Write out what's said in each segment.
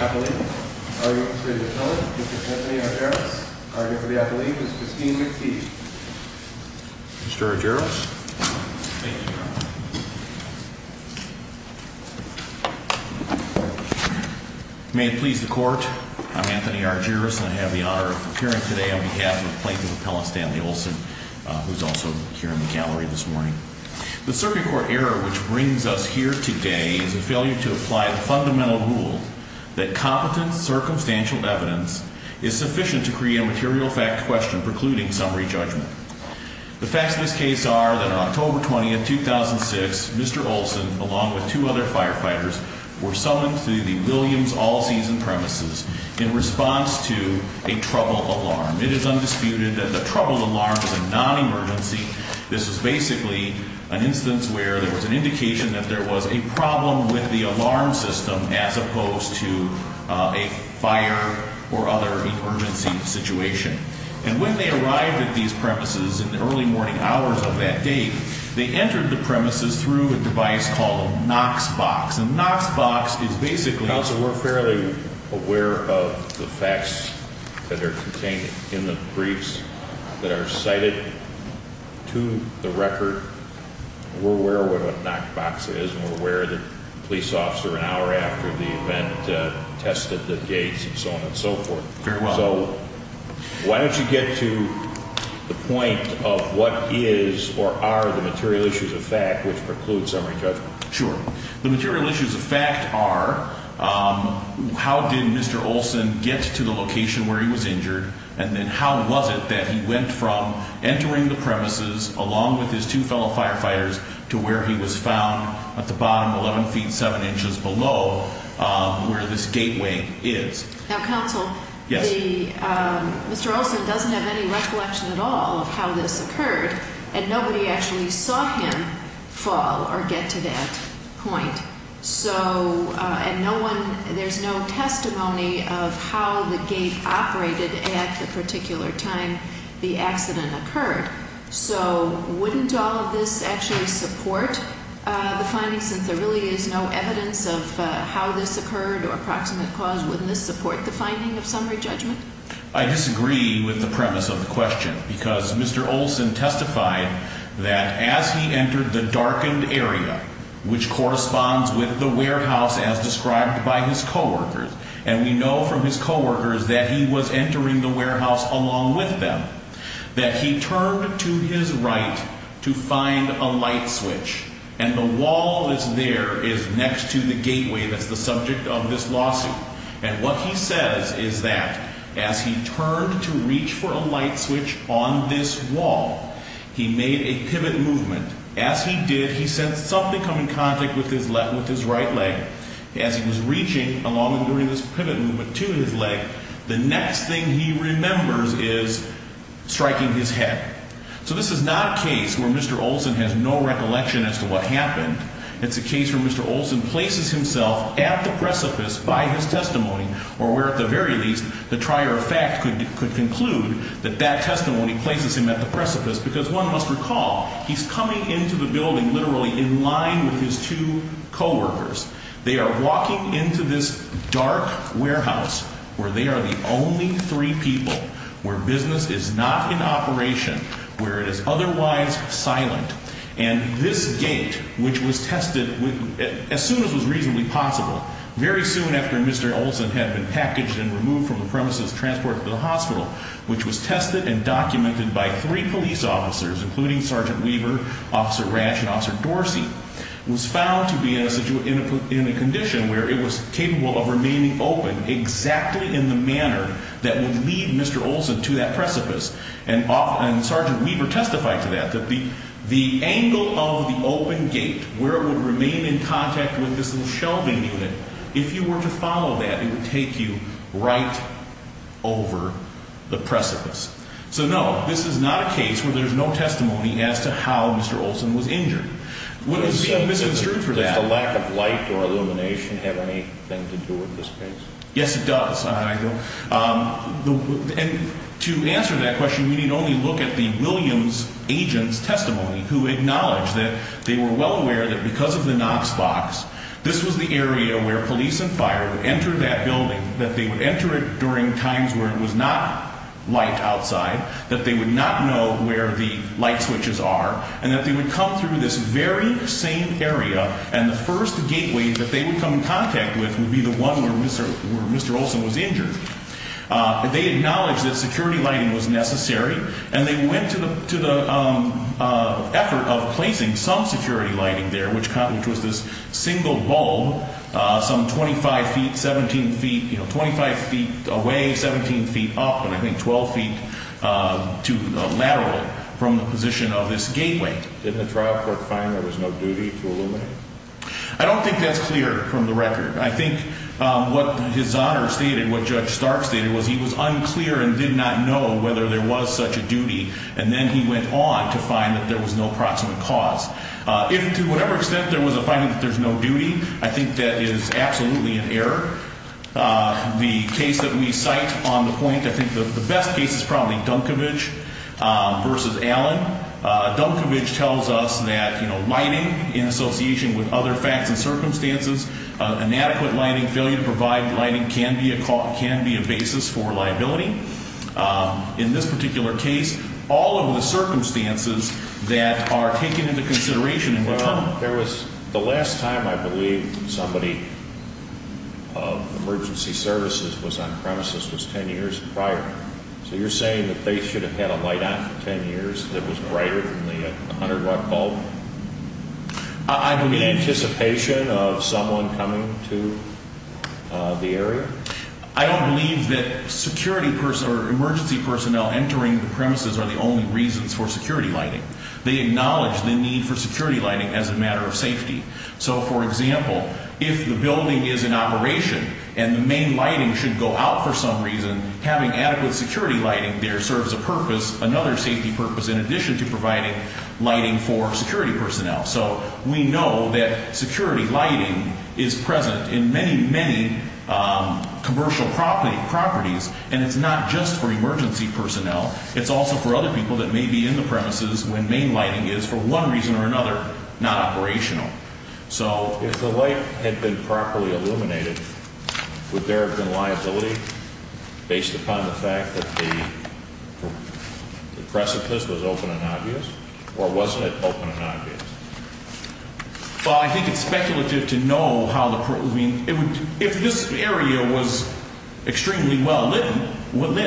Appellate. Arguing for the appellate, Mr. Anthony Argyris. Arguing for the appellate, Ms. Christine McPhee. Mr. Argyris. Thank you, Your Honor. May it please the Court, I'm Anthony Argyris and I have the honor of appearing today on behalf of Plaintiff Appellant Stanley Olson, who's also here in the gallery this morning. The circuit court error which brings us here today is a failure to apply the fundamental rule that competent circumstantial evidence is sufficient to create a material fact question precluding summary judgment. The facts of this case are that on October 20th, 2006, Mr. Olson along with two other firefighters were summoned to the Williams All Seasons premises in response to a trouble alarm. It is undisputed that the trouble alarm is a non-emergency. This is basically an instance where there was an indication that there was a problem with the alarm system as opposed to a fire or other emergency situation. And when they arrived at these premises in the early morning hours of that date, they entered the premises through a device called a Knox Box. And Knox Box is basically... Counsel, we're fairly aware of the facts that are contained in the briefs that are cited to the record. We're aware of what a Knox Box is and we're aware that a police officer an hour after the event tested the gates and so on and so forth. Very well. So why don't you get to the point of what is or are the material issues of fact which preclude summary judgment. Sure. The material issues of fact are how did Mr. Olson get to the location where he was injured and then how was it that he went from entering the premises along with his two fellow firefighters to where he was found at the bottom 11 feet 7 inches below where this gateway is. Now Counsel, Mr. Olson doesn't have any recollection at all of how this occurred and nobody actually saw him fall or get to that point. And there's no testimony of how the gate operated at the particular time the accident occurred. So wouldn't all of this actually support the findings since there really is no evidence of how this occurred or approximate cause? Wouldn't this support the finding of summary judgment? I disagree with the premise of the question because Mr. Olson testified that as he entered the darkened area, which corresponds with the warehouse as described by his coworkers, and we know from his coworkers that he was entering the warehouse along with them, that he turned to his right to find a light switch and the wall that's there is next to the gateway that's the subject of this lawsuit. And what he says is that as he turned to reach for a light switch on this wall, he made a pivot movement. As he did, he sensed something come in contact with his right leg. As he was reaching along and doing this pivot movement to his leg, the next thing he remembers is striking his head. So this is not a case where Mr. Olson has no recollection as to what happened. It's a case where Mr. Olson places himself at the precipice by his testimony or where at the very least the trier of fact could conclude that that testimony places him at the precipice because one must recall, he's coming into the building literally in line with his two coworkers. They are walking into this dark warehouse where they are the only three people, where business is not in operation, where it is otherwise silent. And this gate, which was tested as soon as was reasonably possible, very soon after Mr. Olson had been packaged and removed from the premises and transported to the hospital, which was tested and documented by three police officers, including Sergeant Weaver, Officer Ranch, and Officer Dorsey, was found to be in a condition where it was capable of remaining open exactly in the manner that would lead Mr. Olson to that precipice. And Sergeant Weaver testified to that, that the angle of the open gate, where it would remain in contact with this little shelving unit, if you were to follow that, it would take you right over the precipice. So no, this is not a case where there's no testimony as to how Mr. Olson was injured. Was the lack of light or illumination have anything to do with this case? Yes, it does. And to answer that question, we need only look at the Williams agent's testimony, who acknowledged that they were well aware that because of the Knox box, this was the area where police and fire would enter that building, that they would enter it during times where it was not light outside, that they would not know where the light switches are, and that they would come through this very same area. And the first gateway that they would come in contact with would be the one where Mr. Olson was injured. They acknowledged that security lighting was necessary, and they went to the effort of placing some security lighting there, which was this single bulb, some 25 feet, 17 feet, you know, 25 feet away, 17 feet up, and I think 12 feet laterally from the position of this gateway. Did the trial court find there was no duty to illuminate? I don't think that's clear from the record. I think what his Honor stated, what Judge Stark stated, was he was unclear and did not know whether there was such a duty, and then he went on to find that there was no proximate cause. If to whatever extent there was a finding that there's no duty, I think that is absolutely an error. The case that we cite on the point, I think the best case is probably Dunkovich versus Allen. Dunkovich tells us that, you know, lighting in association with other facts and circumstances, inadequate lighting, failure to provide lighting can be a basis for liability. In this particular case, all of the circumstances that are taken into consideration in return. There was the last time I believe somebody of emergency services was on premises was 10 years prior. So you're saying that they should have had a light on for 10 years that was brighter than the 100-watt bulb? I believe… In anticipation of someone coming to the area? I don't believe that security personnel or emergency personnel entering the premises are the only reasons for security lighting. They acknowledge the need for security lighting as a matter of safety. So, for example, if the building is in operation and the main lighting should go out for some reason, having adequate security lighting there serves a purpose, another safety purpose, in addition to providing lighting for security personnel. So we know that security lighting is present in many, many commercial properties, and it's not just for emergency personnel. It's also for other people that may be in the premises when main lighting is, for one reason or another, not operational. So if the light had been properly illuminated, would there have been liability based upon the fact that the precipice was open and obvious, or wasn't it open and obvious? Well, I think it's speculative to know. If this area was extremely well lit, then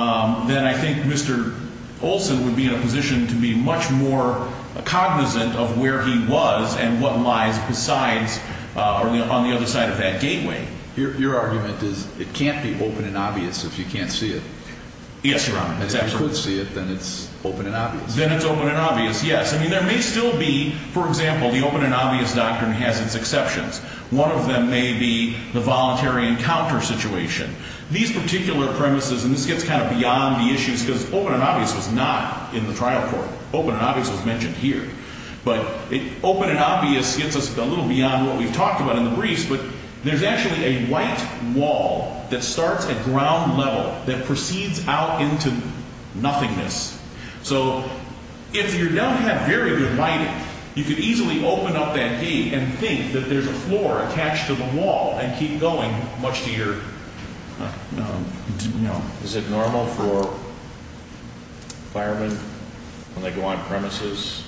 I think Mr. Olson would be in a position to be much more cognizant of where he was and what lies on the other side of that gateway. Your argument is it can't be open and obvious if you can't see it. Yes, Your Honor. If you could see it, then it's open and obvious. Then it's open and obvious, yes. I mean, there may still be, for example, the open and obvious doctrine has its exceptions. One of them may be the voluntary encounter situation. These particular premises, and this gets kind of beyond the issues because open and obvious was not in the trial court. Open and obvious was mentioned here. But open and obvious gets us a little beyond what we've talked about in the briefs, but there's actually a white wall that starts at ground level that proceeds out into nothingness. So if you don't have very good lighting, you could easily open up that gate and think that there's a floor attached to the wall and keep going much to your, you know. Is it normal for firemen, when they go on premises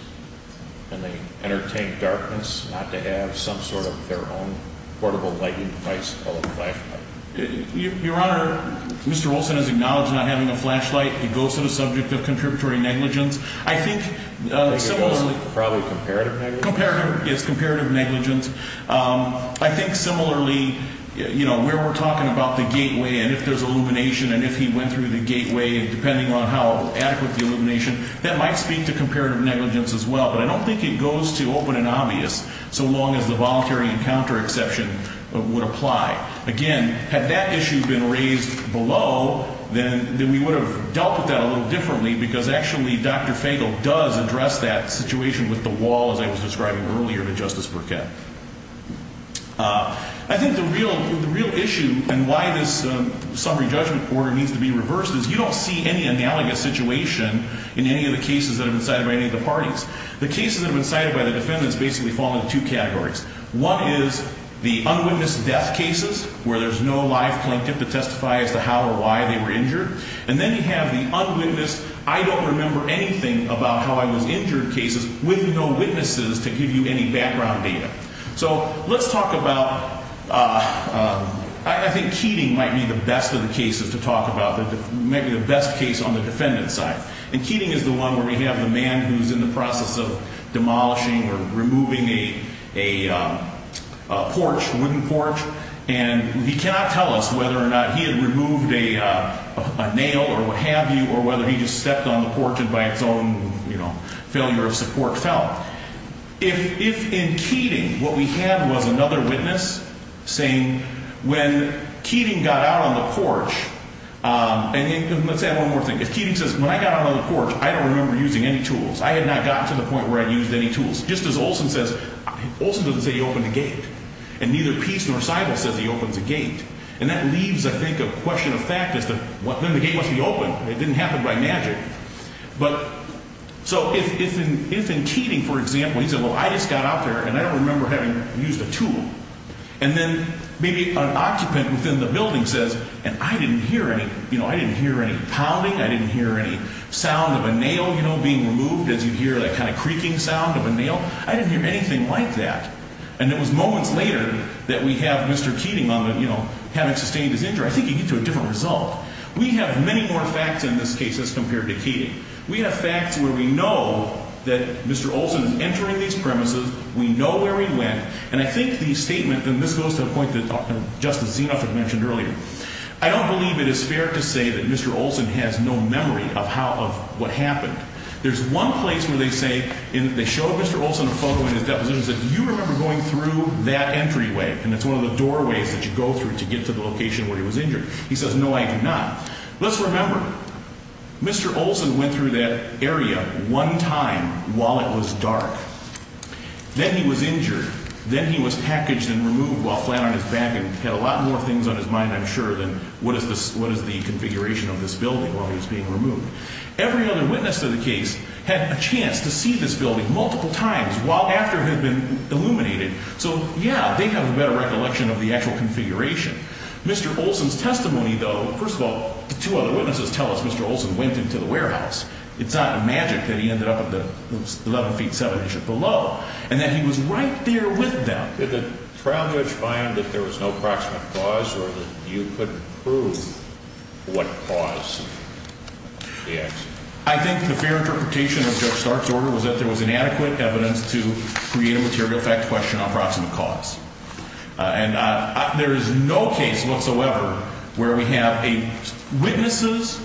and they entertain darkness, not to have some sort of their own portable lighting device or a flashlight? Your Honor, Mr. Olson has acknowledged not having a flashlight. It goes to the subject of contributory negligence. I think similarly. Probably comparative negligence? Comparative, yes, comparative negligence. I think similarly, you know, where we're talking about the gateway and if there's illumination and if he went through the gateway, depending on how adequate the illumination, that might speak to comparative negligence as well. But I don't think it goes to open and obvious so long as the voluntary encounter exception would apply. Again, had that issue been raised below, then we would have dealt with that a little differently because actually Dr. Fagel does address that situation with the wall, as I was describing earlier to Justice Burkett. I think the real issue and why this summary judgment order needs to be reversed is you don't see any analogous situation in any of the cases that have been cited by any of the parties. The cases that have been cited by the defendants basically fall into two categories. One is the unwitnessed death cases where there's no live plaintiff to testify as to how or why they were injured. And then you have the unwitnessed, I don't remember anything about how I was injured cases with no witnesses to give you any background data. So let's talk about, I think Keating might be the best of the cases to talk about, maybe the best case on the defendant's side. And Keating is the one where we have the man who's in the process of demolishing or removing a porch, a wooden porch. And he cannot tell us whether or not he had removed a nail or what have you or whether he just stepped on the porch and by its own, you know, failure of support fell. If in Keating what we had was another witness saying when Keating got out on the porch, and let's add one more thing. If Keating says, when I got out on the porch, I don't remember using any tools. I had not gotten to the point where I used any tools. Just as Olson says, Olson doesn't say he opened a gate. And neither Peace nor Seidel says he opens a gate. And that leaves, I think, a question of fact is then the gate must be open. It didn't happen by magic. But so if in Keating, for example, he said, well, I just got out there and I don't remember having used a tool. And then maybe an occupant within the building says, and I didn't hear any, you know, I didn't hear any pounding. I didn't hear any sound of a nail, you know, being removed as you hear that kind of creaking sound of a nail. I didn't hear anything like that. And it was moments later that we have Mr. Keating on the, you know, having sustained his injury. I think you get to a different result. We have many more facts in this case as compared to Keating. We have facts where we know that Mr. Olson is entering these premises. We know where he went. And I think the statement, and this goes to the point that Justice Zinoff had mentioned earlier, I don't believe it is fair to say that Mr. Olson has no memory of how, of what happened. There's one place where they say, they showed Mr. Olson a photo in his deposition and said, do you remember going through that entryway? And it's one of the doorways that you go through to get to the location where he was injured. He says, no, I do not. Let's remember, Mr. Olson went through that area one time while it was dark. Then he was injured. Then he was packaged and removed while flat on his back and had a lot more things on his mind, I'm sure, than what is the configuration of this building while he was being removed. Every other witness to the case had a chance to see this building multiple times while after it had been illuminated. So, yeah, they have a better recollection of the actual configuration. Mr. Olson's testimony, though, first of all, the two other witnesses tell us Mr. Olson went into the warehouse. It's not magic that he ended up at the 11 feet 7 inches below and that he was right there with them. Did the trial judge find that there was no proximate cause or that you could prove what cause the accident was? I think the fair interpretation of Judge Stark's order was that there was inadequate evidence to create a material fact question on proximate cause. And there is no case whatsoever where we have witnesses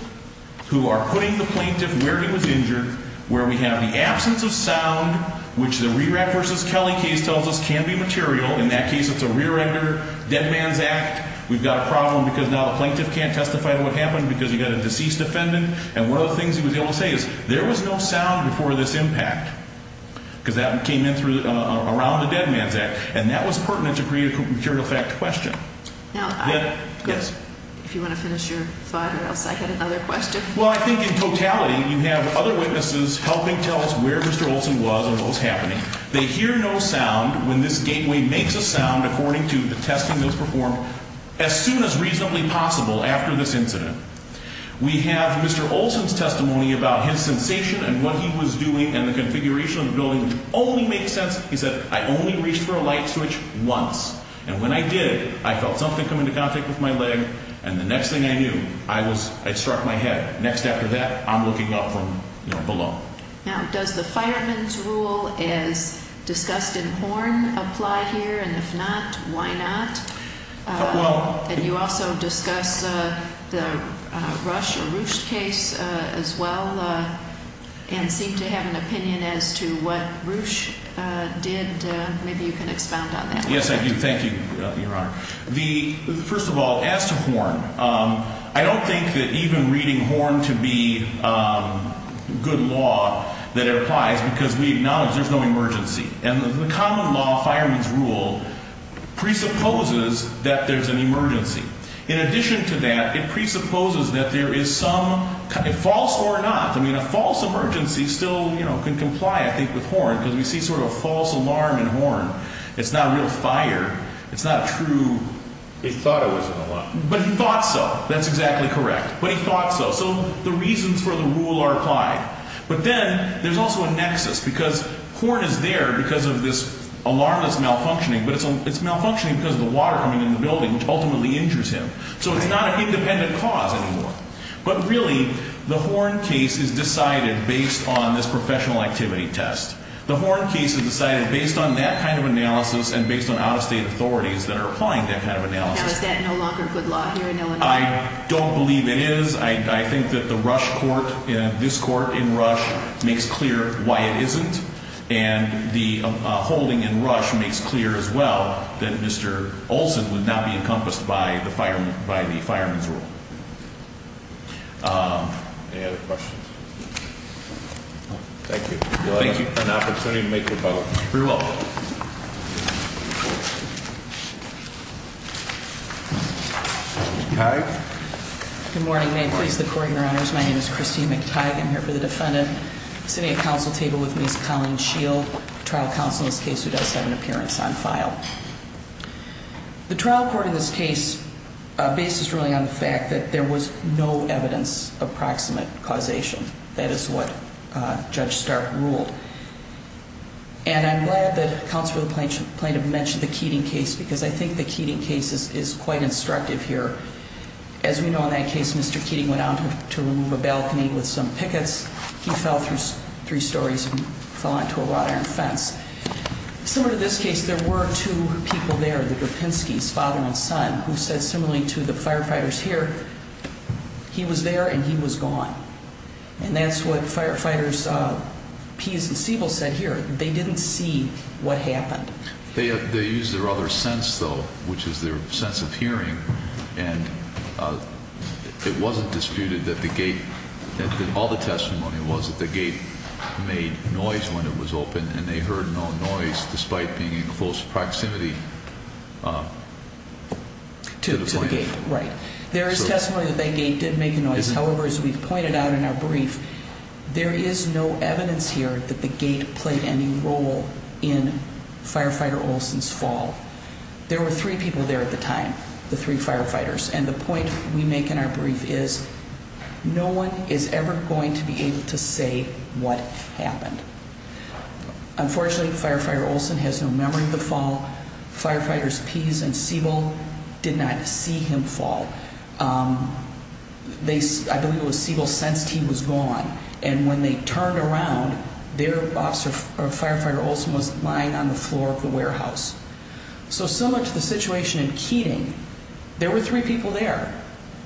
who are putting the plaintiff where he was injured, where we have the absence of sound, which the Rerack v. Kelly case tells us can be material. In that case, it's a rear-ender dead man's act. We've got a problem because now the plaintiff can't testify to what happened because you've got a deceased defendant. And one of the things he was able to say is there was no sound before this impact because that came in around the dead man's act. And that was pertinent to create a material fact question. Now, if you want to finish your thought or else I had another question. Well, I think in totality you have other witnesses helping tell us where Mr. Olson was and what was happening. They hear no sound when this gateway makes a sound according to the testing that was performed as soon as reasonably possible after this incident. We have Mr. Olson's testimony about his sensation and what he was doing and the configuration of the building, which only makes sense. He said, I only reached for a light switch once. And when I did, I felt something come into contact with my leg. And the next thing I knew, I was ‑‑ I struck my head. Next after that, I'm looking up from below. Now, does the fireman's rule as discussed in Horn apply here? And if not, why not? And you also discuss the Rush or Roosh case as well and seem to have an opinion as to what Roosh did. Maybe you can expound on that. Yes, I do. Thank you, Your Honor. First of all, as to Horn, I don't think that even reading Horn to be good law that it applies because we acknowledge there's no emergency. And the common law, fireman's rule, presupposes that there's an emergency. In addition to that, it presupposes that there is some false or not. I mean, a false emergency still can comply, I think, with Horn because we see sort of a false alarm in Horn. It's not a real fire. It's not a true ‑‑ He thought it was an alarm. But he thought so. That's exactly correct. But he thought so. So the reasons for the rule are applied. But then there's also a nexus because Horn is there because of this alarm that's malfunctioning. But it's malfunctioning because of the water coming in the building, which ultimately injures him. So it's not an independent cause anymore. But really, the Horn case is decided based on this professional activity test. The Horn case is decided based on that kind of analysis and based on out-of-state authorities that are applying that kind of analysis. Now, is that no longer good law here in Illinois? I don't believe it is. I think that the Rush court, this court in Rush, makes clear why it isn't. And the holding in Rush makes clear as well that Mr. Olson would not be encompassed by the fireman's rule. Any other questions? Thank you. Thank you for an opportunity to make your vote. You're welcome. Ms. McHarg? Good morning. May it please the Court, Your Honors. My name is Christine McTighe. I'm here for the defendant. Sitting at counsel table with me is Colleen Shield, trial counsel in this case, who does have an appearance on file. The trial court in this case bases ruling on the fact that there was no evidence of proximate causation. That is what Judge Stark ruled. And I'm glad that Counsel for the Plaintiff mentioned the Keating case because I think the Keating case is quite instructive here. As we know in that case, Mr. Keating went out to remove a balcony with some pickets. He fell through three stories and fell onto a wrought iron fence. Similar to this case, there were two people there, the Gropinski's father and son, who said similarly to the firefighters here, he was there and he was gone. And that's what firefighters Pease and Siebel said here. They didn't see what happened. They used their other sense, though, which is their sense of hearing. And it wasn't disputed that the gate, all the testimony was that the gate made noise when it was open and they heard no noise, despite being in close proximity to the plaintiff. To the gate, right. There is testimony that that gate did make a noise. However, as we've pointed out in our brief, there is no evidence here that the gate played any role in Firefighter Olson's fall. There were three people there at the time, the three firefighters. And the point we make in our brief is no one is ever going to be able to say what happened. Unfortunately, Firefighter Olson has no memory of the fall. Firefighters Pease and Siebel did not see him fall. I believe it was Siebel's sense team was gone. And when they turned around, their officer, Firefighter Olson, was lying on the floor of the warehouse. So similar to the situation in Keating, there were three people there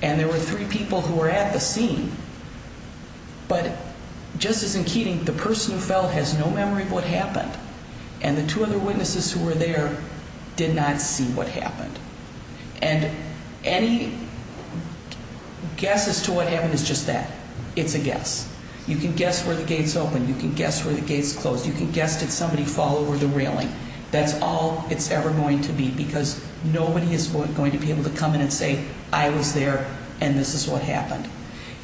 and there were three people who were at the scene. But just as in Keating, the person who fell has no memory of what happened. And the two other witnesses who were there did not see what happened. And any guess as to what happened is just that. It's a guess. You can guess where the gates opened. You can guess where the gates closed. You can guess did somebody fall over the railing. That's all it's ever going to be because nobody is going to be able to come in and say, I was there and this is what happened.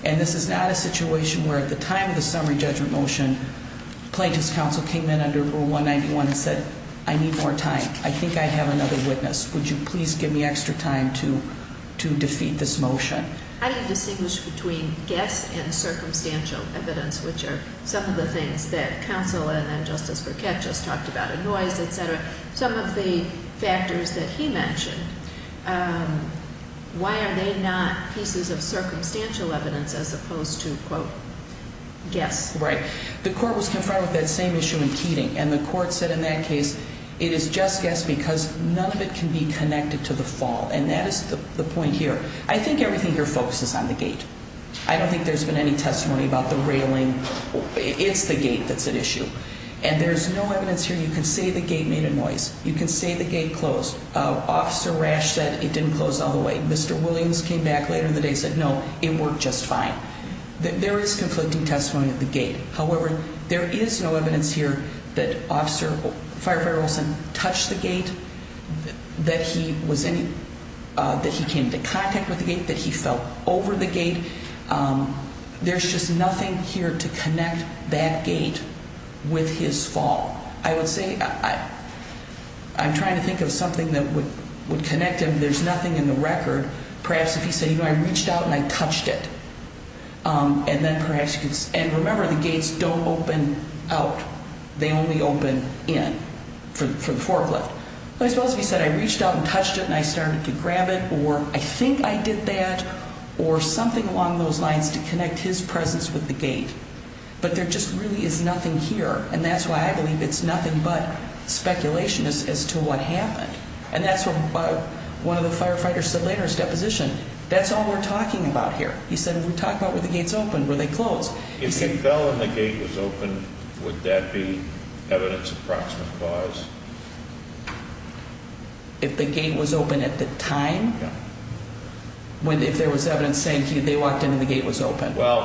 And this is not a situation where at the time of the summary judgment motion, Plaintiff's counsel came in under Rule 191 and said, I need more time. I think I have another witness. Would you please give me extra time to defeat this motion? How do you distinguish between guess and circumstantial evidence, which are some of the things that counsel and Justice Burkett just talked about, a noise, et cetera? Some of the factors that he mentioned, why are they not pieces of circumstantial evidence as opposed to, quote, guess? Right. The court was confronted with that same issue in Keating. And the court said in that case, it is just guess because none of it can be connected to the fall. And that is the point here. I think everything here focuses on the gate. I don't think there's been any testimony about the railing. It's the gate that's at issue. And there's no evidence here. You can say the gate made a noise. You can say the gate closed. Officer Rash said it didn't close all the way. Mr. Williams came back later in the day and said, no, it worked just fine. There is conflicting testimony at the gate. However, there is no evidence here that Firefighter Olson touched the gate, that he came into contact with the gate, that he fell over the gate. There's just nothing here to connect that gate with his fall. I would say I'm trying to think of something that would connect him. There's nothing in the record. Perhaps if he said, you know, I reached out and I touched it. And remember, the gates don't open out. They only open in for the forklift. I suppose if he said, I reached out and touched it and I started to grab it, or I think I did that, or something along those lines to connect his presence with the gate. But there just really is nothing here. And that's why I believe it's nothing but speculation as to what happened. And that's what one of the firefighters said later, his deposition. That's all we're talking about here. He said, we're talking about where the gates open, where they close. If he fell and the gate was open, would that be evidence of proximate cause? If the gate was open at the time? Yeah. If there was evidence saying they walked in and the gate was open? Well,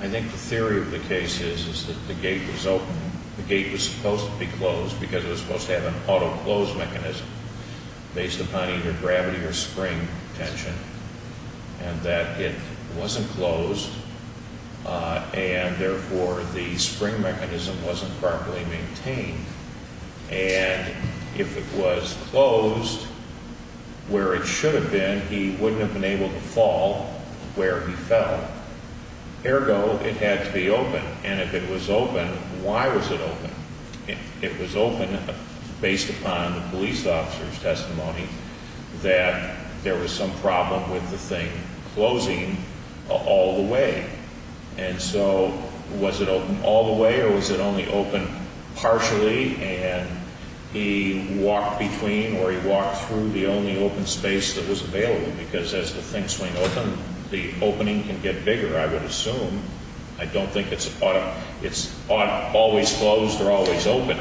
I think the theory of the case is that the gate was open. The gate was supposed to be closed because it was supposed to have an auto-close mechanism based upon either gravity or spring tension. And that it wasn't closed, and therefore the spring mechanism wasn't properly maintained. And if it was closed where it should have been, he wouldn't have been able to fall where he fell. Ergo, it had to be open. And if it was open, why was it open? It was open based upon the police officer's testimony that there was some problem with the thing closing all the way. And so was it open all the way or was it only open partially and he walked between or he walked through the only open space that was available? Because as the things swing open, the opening can get bigger, I would assume. I don't think it's always closed or always open.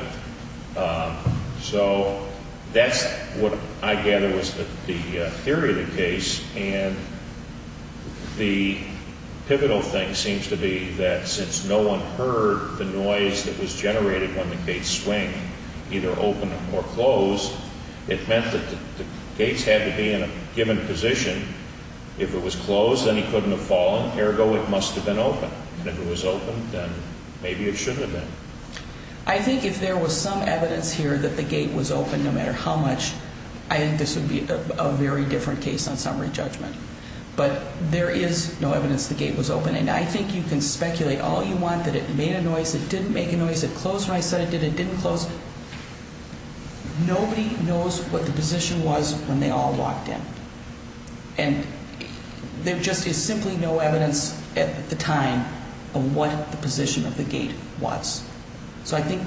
So that's what I gather was the theory of the case. And the pivotal thing seems to be that since no one heard the noise that was generated when the gates swing either open or closed, it meant that the gates had to be in a given position. If it was closed, then he couldn't have fallen. Ergo, it must have been open. And if it was open, then maybe it should have been. I think if there was some evidence here that the gate was open no matter how much, I think this would be a very different case on summary judgment. But there is no evidence the gate was open. And I think you can speculate all you want that it made a noise, it didn't make a noise, it closed when I said it did, it didn't close. Nobody knows what the position was when they all walked in. And there just is simply no evidence at the time of what the position of the gate was. So I think,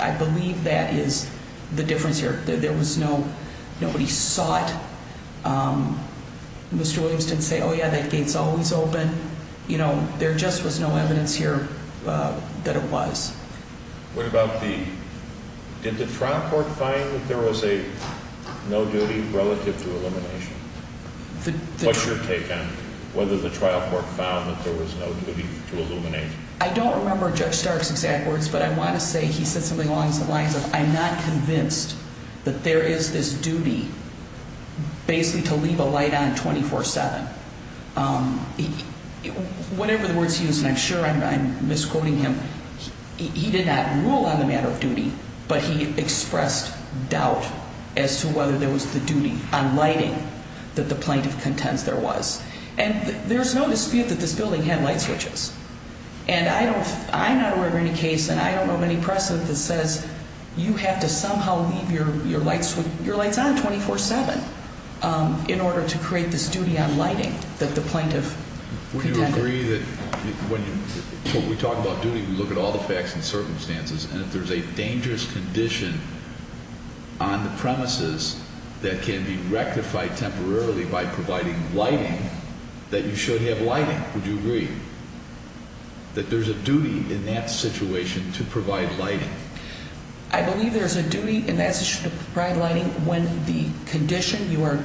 I believe that is the difference here. There was no, nobody saw it. Mr. Williams didn't say, oh, yeah, that gate's always open. You know, there just was no evidence here that it was. What about the, did the trial court find that there was a no duty relative to elimination? What's your take on whether the trial court found that there was no duty to eliminate? I don't remember Judge Stark's exact words, but I want to say he said something along the lines of, I'm not convinced that there is this duty basically to leave a light on 24-7. Whatever the words he used, and I'm sure I'm misquoting him, he did not rule on the matter of duty, but he expressed doubt as to whether there was the duty on lighting that the plaintiff contends there was. And there's no dispute that this building had light switches. And I'm not aware of any case, and I don't know of any precedent that says you have to somehow leave your lights on 24-7 in order to create this duty on lighting that the plaintiff contended. Would you agree that when we talk about duty, we look at all the facts and circumstances, and if there's a dangerous condition on the premises that can be rectified temporarily by providing lighting, that you should have lighting? Would you agree that there's a duty in that situation to provide lighting? I believe there's a duty in that situation to provide lighting when the condition you are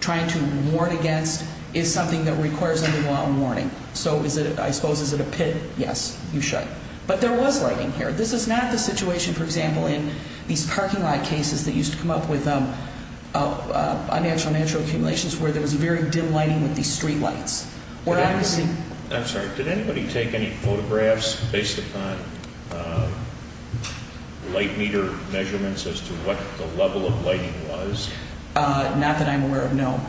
trying to warn against is something that requires a new law of warning. So is it, I suppose, is it a pit? Yes, you should. But there was lighting here. This is not the situation, for example, in these parking lot cases that used to come up with unnatural natural accumulations where there was very dim lighting with these street lights. I'm sorry. Did anybody take any photographs based upon light meter measurements as to what the level of lighting was? Not that I'm aware of, no.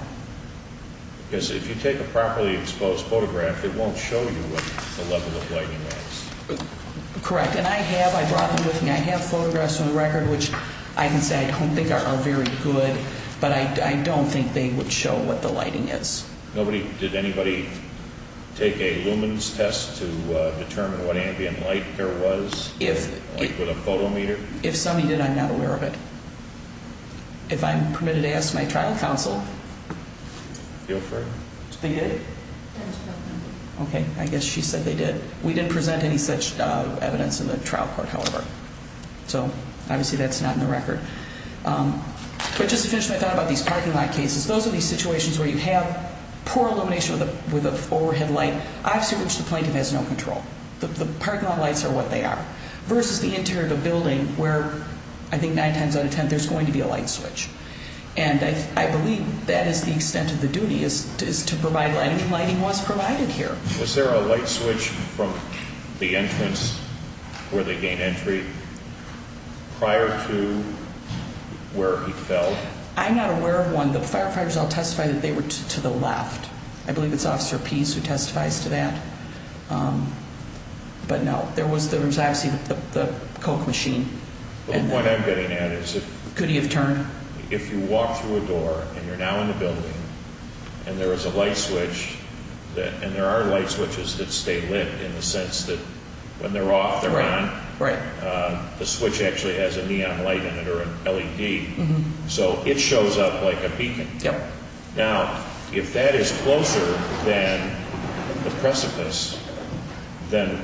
Because if you take a properly exposed photograph, it won't show you what the level of lighting is. Correct. And I have. I brought them with me. I have photographs on the record which I can say I don't think are very good, but I don't think they would show what the lighting is. Did anybody take a lumens test to determine what ambient light there was with a photo meter? If somebody did, I'm not aware of it. If I'm permitted to ask my trial counsel. Feel free. They did? Okay. I guess she said they did. We didn't present any such evidence in the trial court, however. So obviously that's not in the record. But just to finish what I thought about these parking lot cases, those are these situations where you have poor illumination with a forehead light, obviously which the plaintiff has no control. The parking lot lights are what they are versus the interior of a building where I think nine times out of ten there's going to be a light switch. And I believe that is the extent of the duty is to provide lighting, and lighting was provided here. Was there a light switch from the entrance where they gained entry prior to where he fell? I'm not aware of one. The firefighters all testified that they were to the left. I believe it's Officer Pease who testifies to that. But, no, there was obviously the Coke machine. The point I'm getting at is if you walk through a door and you're now in the building and there is a light switch, and there are light switches that stay lit in the sense that when they're off they're on, the switch actually has a neon light in it or an LED. So it shows up like a beacon. Now, if that is closer than the precipice, then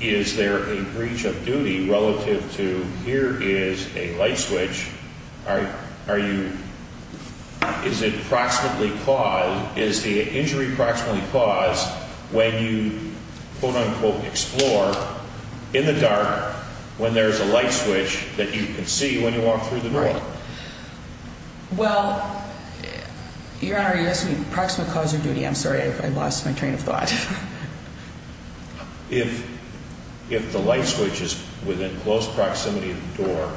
is there a breach of duty relative to here is a light switch, is the injury proximately caused when you, quote, unquote, explore in the dark when there's a light switch that you can see when you walk through the door? Well, Your Honor, you're asking me proximately cause or duty. I'm sorry. I lost my train of thought. If the light switch is within close proximity of the door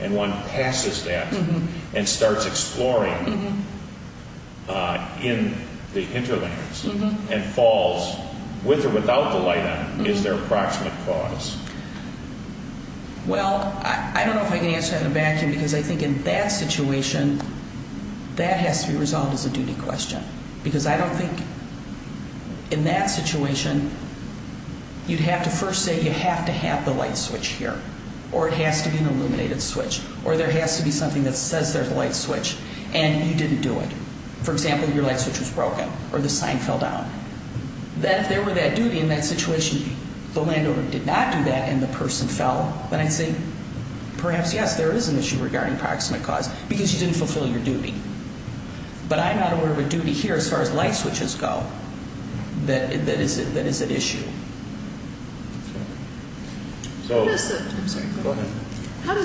and one passes that and starts exploring in the hinterlands and falls with or without the light on, is there a proximate cause? Well, I don't know if I can answer that in a vacuum because I think in that situation that has to be resolved as a duty question because I don't think in that situation you'd have to first say you have to have the light switch here or it has to be an illuminated switch or there has to be something that says there's a light switch and you didn't do it. For example, your light switch was broken or the sign fell down. If there were that duty in that situation, the landowner did not do that and the person fell, then I'd say perhaps, yes, there is an issue regarding proximate cause because you didn't fulfill your duty. But I'm not aware of a duty here as far as light switches go that is an issue. How does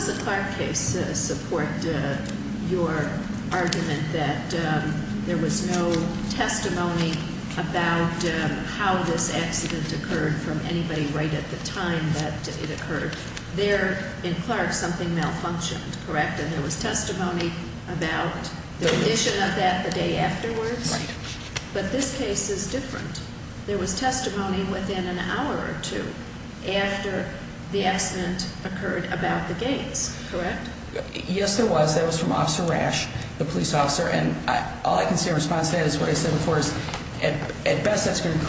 the Clark case support your argument that there was no testimony about how this accident occurred from anybody right at the time that it occurred? There in Clark something malfunctioned, correct? And there was testimony about the condition of that the day afterwards? Right. But this case is different. There was testimony within an hour or two after the accident occurred about the gates, correct? Yes, there was. That was from Officer Rash, the police officer, and all I can say in response to that is what I said before is at best that's going to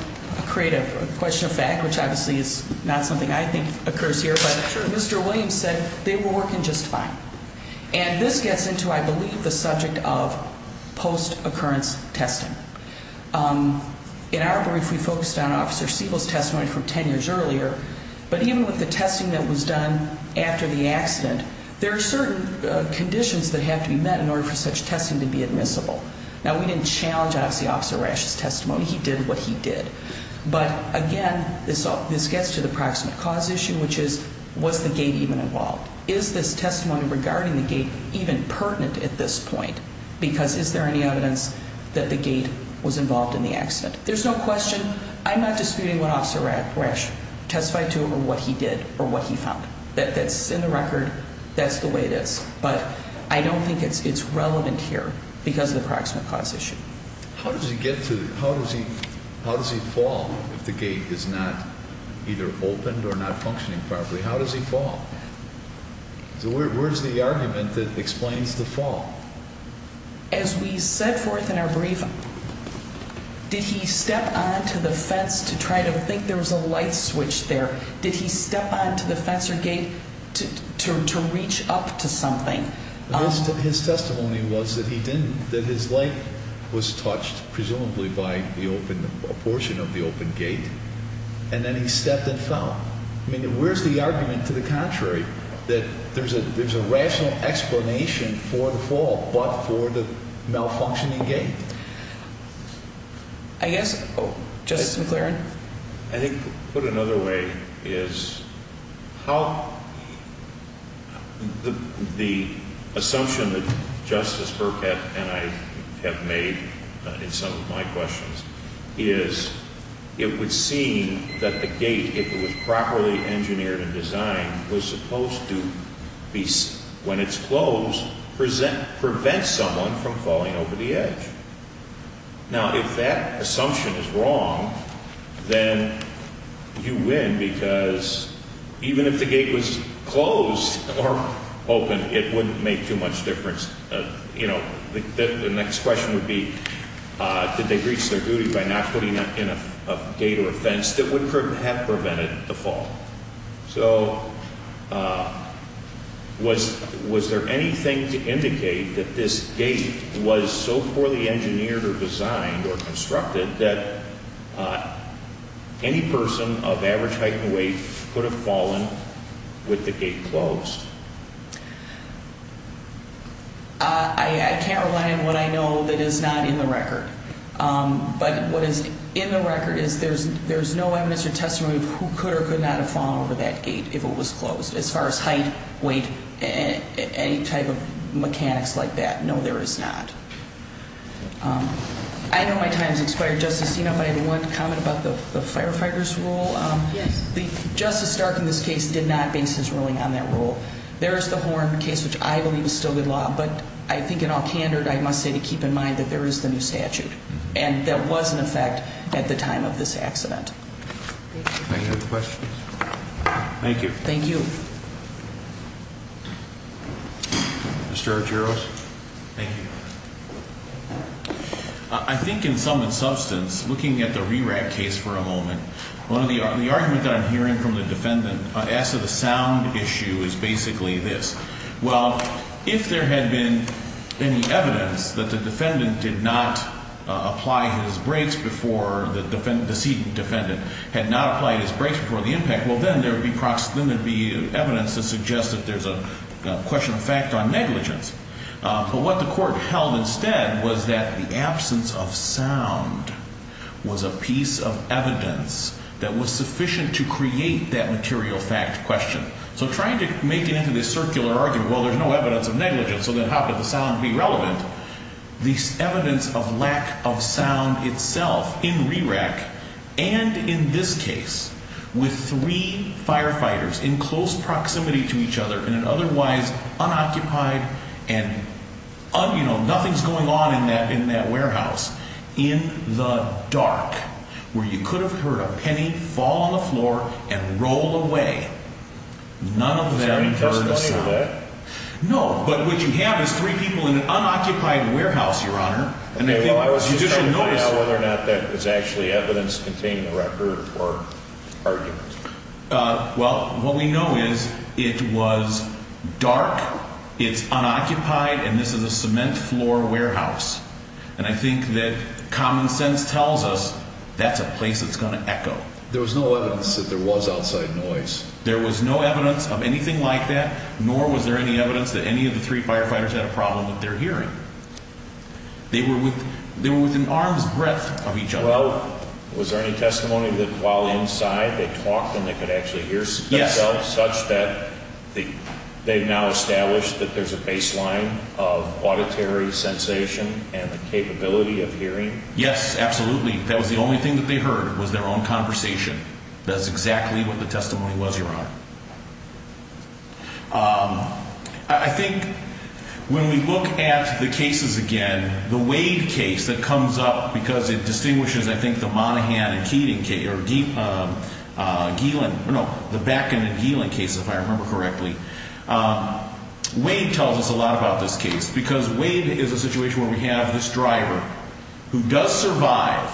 create a question of fact, which obviously is not something I think occurs here, but Mr. Williams said they were working just fine. And this gets into, I believe, the subject of post-occurrence testing. In our brief, we focused on Officer Siebel's testimony from 10 years earlier, but even with the testing that was done after the accident, there are certain conditions that have to be met in order for such testing to be admissible. Now, we didn't challenge, obviously, Officer Rash's testimony. He did what he did. But, again, this gets to the proximate cause issue, which is was the gate even involved? Is this testimony regarding the gate even pertinent at this point? Because is there any evidence that the gate was involved in the accident? There's no question. I'm not disputing what Officer Rash testified to or what he did or what he found. That's in the record. That's the way it is. But I don't think it's relevant here because of the proximate cause issue. How does he fall if the gate is not either opened or not functioning properly? How does he fall? Where's the argument that explains the fall? As we set forth in our brief, did he step onto the fence to try to think there was a light switch there? Did he step onto the fence or gate to reach up to something? His testimony was that he didn't, that his light was touched presumably by a portion of the open gate, and then he stepped and fell. I mean, where's the argument to the contrary that there's a rational explanation for the fall, but for the malfunctioning gate? I guess, Justice McLaren? I think put another way is how the assumption that Justice Burkett and I have made in some of my questions is it would seem that the gate, if it was properly engineered and designed, was supposed to, when it's closed, prevent someone from falling over the edge. Now, if that assumption is wrong, then you win because even if the gate was closed or open, it wouldn't make too much difference. The next question would be, did they reach their duty by not putting in a gate or a fence that would have prevented the fall? So, was there anything to indicate that this gate was so poorly engineered or designed or constructed that any person of average height and weight could have fallen with the gate closed? I can't rely on what I know that is not in the record. But what is in the record is there's no evidence or testimony of who could or could not have fallen over that gate if it was closed as far as height, weight, any type of mechanics like that. No, there is not. I know my time has expired, Justice. Do you know if I had one comment about the firefighter's rule? Yes. Justice Stark in this case did not base his ruling on that rule. There is the horn case, which I believe is still good law. But I think in all candor, I must say to keep in mind that there is the new statute. And there was an effect at the time of this accident. Thank you. Any other questions? Thank you. Thank you. Mr. Archeros? Thank you. I think in sum and substance, looking at the RERAC case for a moment, the argument that I'm hearing from the defendant as to the sound issue is basically this. Well, if there had been any evidence that the defendant did not apply his brakes before the defendant, the decedent defendant had not applied his brakes before the impact, well, then there would be evidence to suggest that there's a question of fact on negligence. But what the court held instead was that the absence of sound was a piece of evidence that was sufficient to create that material fact question. So trying to make it into this circular argument, well, there's no evidence of negligence, so then how could the sound be relevant? The evidence of lack of sound itself in RERAC and in this case with three firefighters in close proximity to each other in an otherwise unoccupied and, you know, nothing's going on in that warehouse, in the dark, where you could have heard a penny fall on the floor and roll away. None of them heard a sound. Was there any testimony of that? No. But what you have is three people in an unoccupied warehouse, Your Honor. Okay. Well, I was just trying to find out whether or not that was actually evidence containing a record or argument. Well, what we know is it was dark, it's unoccupied, and this is a cement floor warehouse. And I think that common sense tells us that's a place that's going to echo. There was no evidence that there was outside noise. There was no evidence of anything like that, nor was there any evidence that any of the three firefighters had a problem with their hearing. They were within arm's breadth of each other. Well, was there any testimony that while inside they talked and they could actually hear themselves? Yes. Such that they've now established that there's a baseline of auditory sensation and the capability of hearing? Yes, absolutely. That was the only thing that they heard was their own conversation. That's exactly what the testimony was, Your Honor. I think when we look at the cases again, the Wade case that comes up, because it distinguishes, I think, the Monaghan and Keating case, or Geelan, no, the Bakken and Geelan case, if I remember correctly. Wade tells us a lot about this case, because Wade is a situation where we have this driver who does survive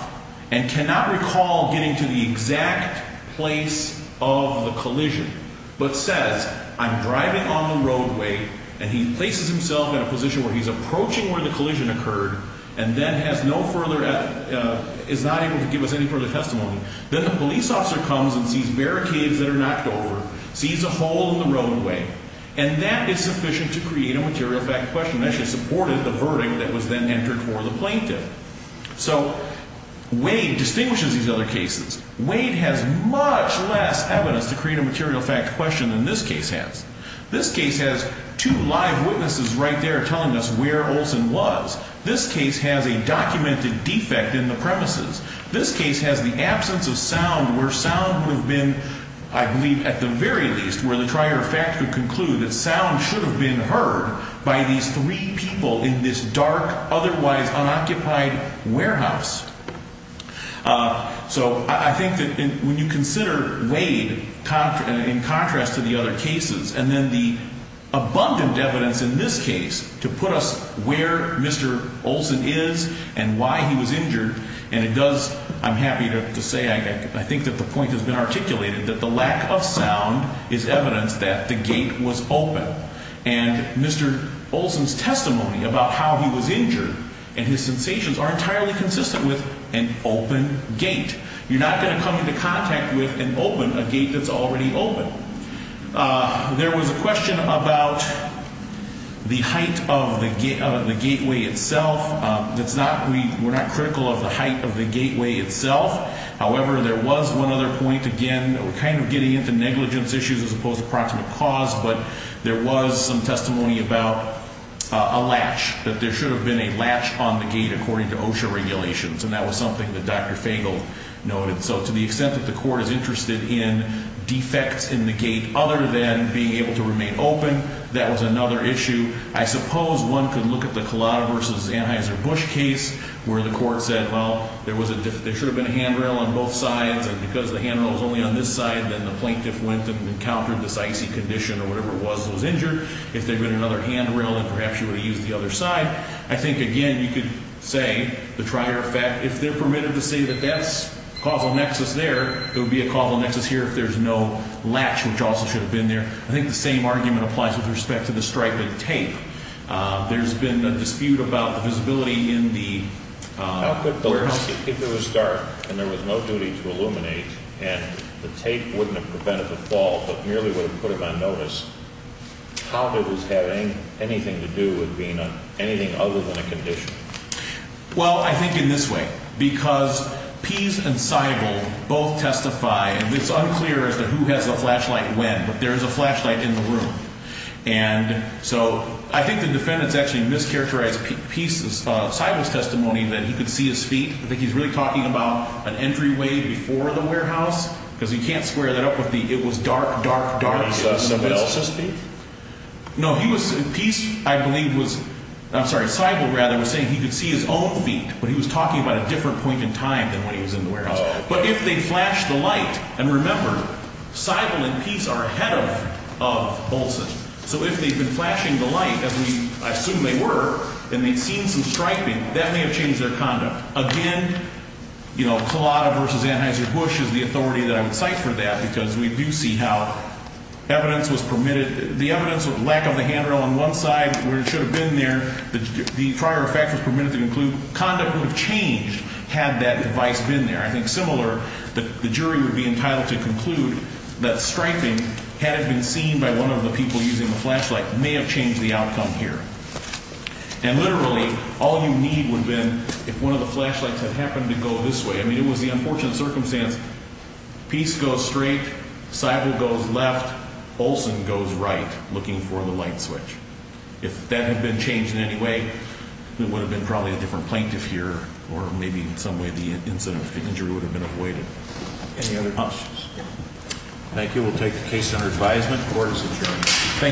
and cannot recall getting to the exact place of the collision, but says, I'm driving on the roadway, and he places himself in a position where he's approaching where the collision occurred and then has no further, is not able to give us any further testimony. Then the police officer comes and sees barricades that are knocked over, sees a hole in the roadway, and that is sufficient to create a material fact question. That should support the verdict that was then entered for the plaintiff. So Wade distinguishes these other cases. Wade has much less evidence to create a material fact question than this case has. This case has two live witnesses right there telling us where Olson was. This case has a documented defect in the premises. This case has the absence of sound, where sound would have been, I believe, at the very least, where the trier of fact would conclude that sound should have been heard by these three people in this dark, otherwise unoccupied warehouse. So I think that when you consider Wade, in contrast to the other cases, and then the abundant evidence in this case to put us where Mr. Olson is and why he was injured, and it does, I'm happy to say, I think that the point has been articulated, that the lack of sound is evidence that the gate was open. And Mr. Olson's testimony about how he was injured and his sensations are entirely consistent with an open gate. You're not going to come into contact with an open, a gate that's already open. There was a question about the height of the gateway itself. We're not critical of the height of the gateway itself. However, there was one other point, again, we're kind of getting into negligence issues as opposed to proximate cause, but there was some testimony about a latch, that there should have been a latch on the gate according to OSHA regulations, and that was something that Dr. Fagel noted. So to the extent that the court is interested in defects in the gate other than being able to remain open, that was another issue. I suppose one could look at the Collada v. Anheuser-Busch case, where the court said, well, there should have been a handrail on both sides, and because the handrail was only on this side, then the plaintiff went and encountered this icy condition or whatever it was that was injured. If there had been another handrail, then perhaps you would have used the other side. I think, again, you could say the Trier effect, if they're permitted to say that that's causal nexus there, there would be a causal nexus here if there's no latch, which also should have been there. I think the same argument applies with respect to the striping tape. There's been a dispute about the visibility in the warehouse. If it was dark and there was no duty to illuminate and the tape wouldn't have prevented the fall but merely would have put it on notice, how did this have anything to do with being anything other than a condition? Well, I think in this way, because Pease and Seibel both testify, and it's unclear as to who has the flashlight when, but there is a flashlight in the room. And so I think the defendants actually mischaracterized Pease's, Seibel's testimony that he could see his feet. I think he's really talking about an entryway before the warehouse because he can't square that up with the it was dark, dark, dark. Was that Seibel's feet? No, he was – Pease, I believe, was – I'm sorry, Seibel, rather, was saying he could see his own feet, but he was talking about a different point in time than when he was in the warehouse. But if they flashed the light – and remember, Seibel and Pease are ahead of Bolson. So if they've been flashing the light, as we assume they were, and they've seen some striping, that may have changed their conduct. Again, you know, Collada v. Anheuser-Busch is the authority that I would cite for that because we do see how evidence was permitted – the evidence of lack of the handrail on one side where it should have been there, the prior effect was permitted to conclude, conduct would have changed had that device been there. I think similar, the jury would be entitled to conclude that striping, had it been seen by one of the people using the flashlight, may have changed the outcome here. And literally, all you need would have been if one of the flashlights had happened to go this way. I mean, it was the unfortunate circumstance. Pease goes straight, Seibel goes left, Bolson goes right, looking for the light switch. If that had been changed in any way, there would have been probably a different plaintiff here or maybe in some way the incident of injury would have been avoided. Any other questions? Thank you. We'll take the case under advisement. Court is adjourned.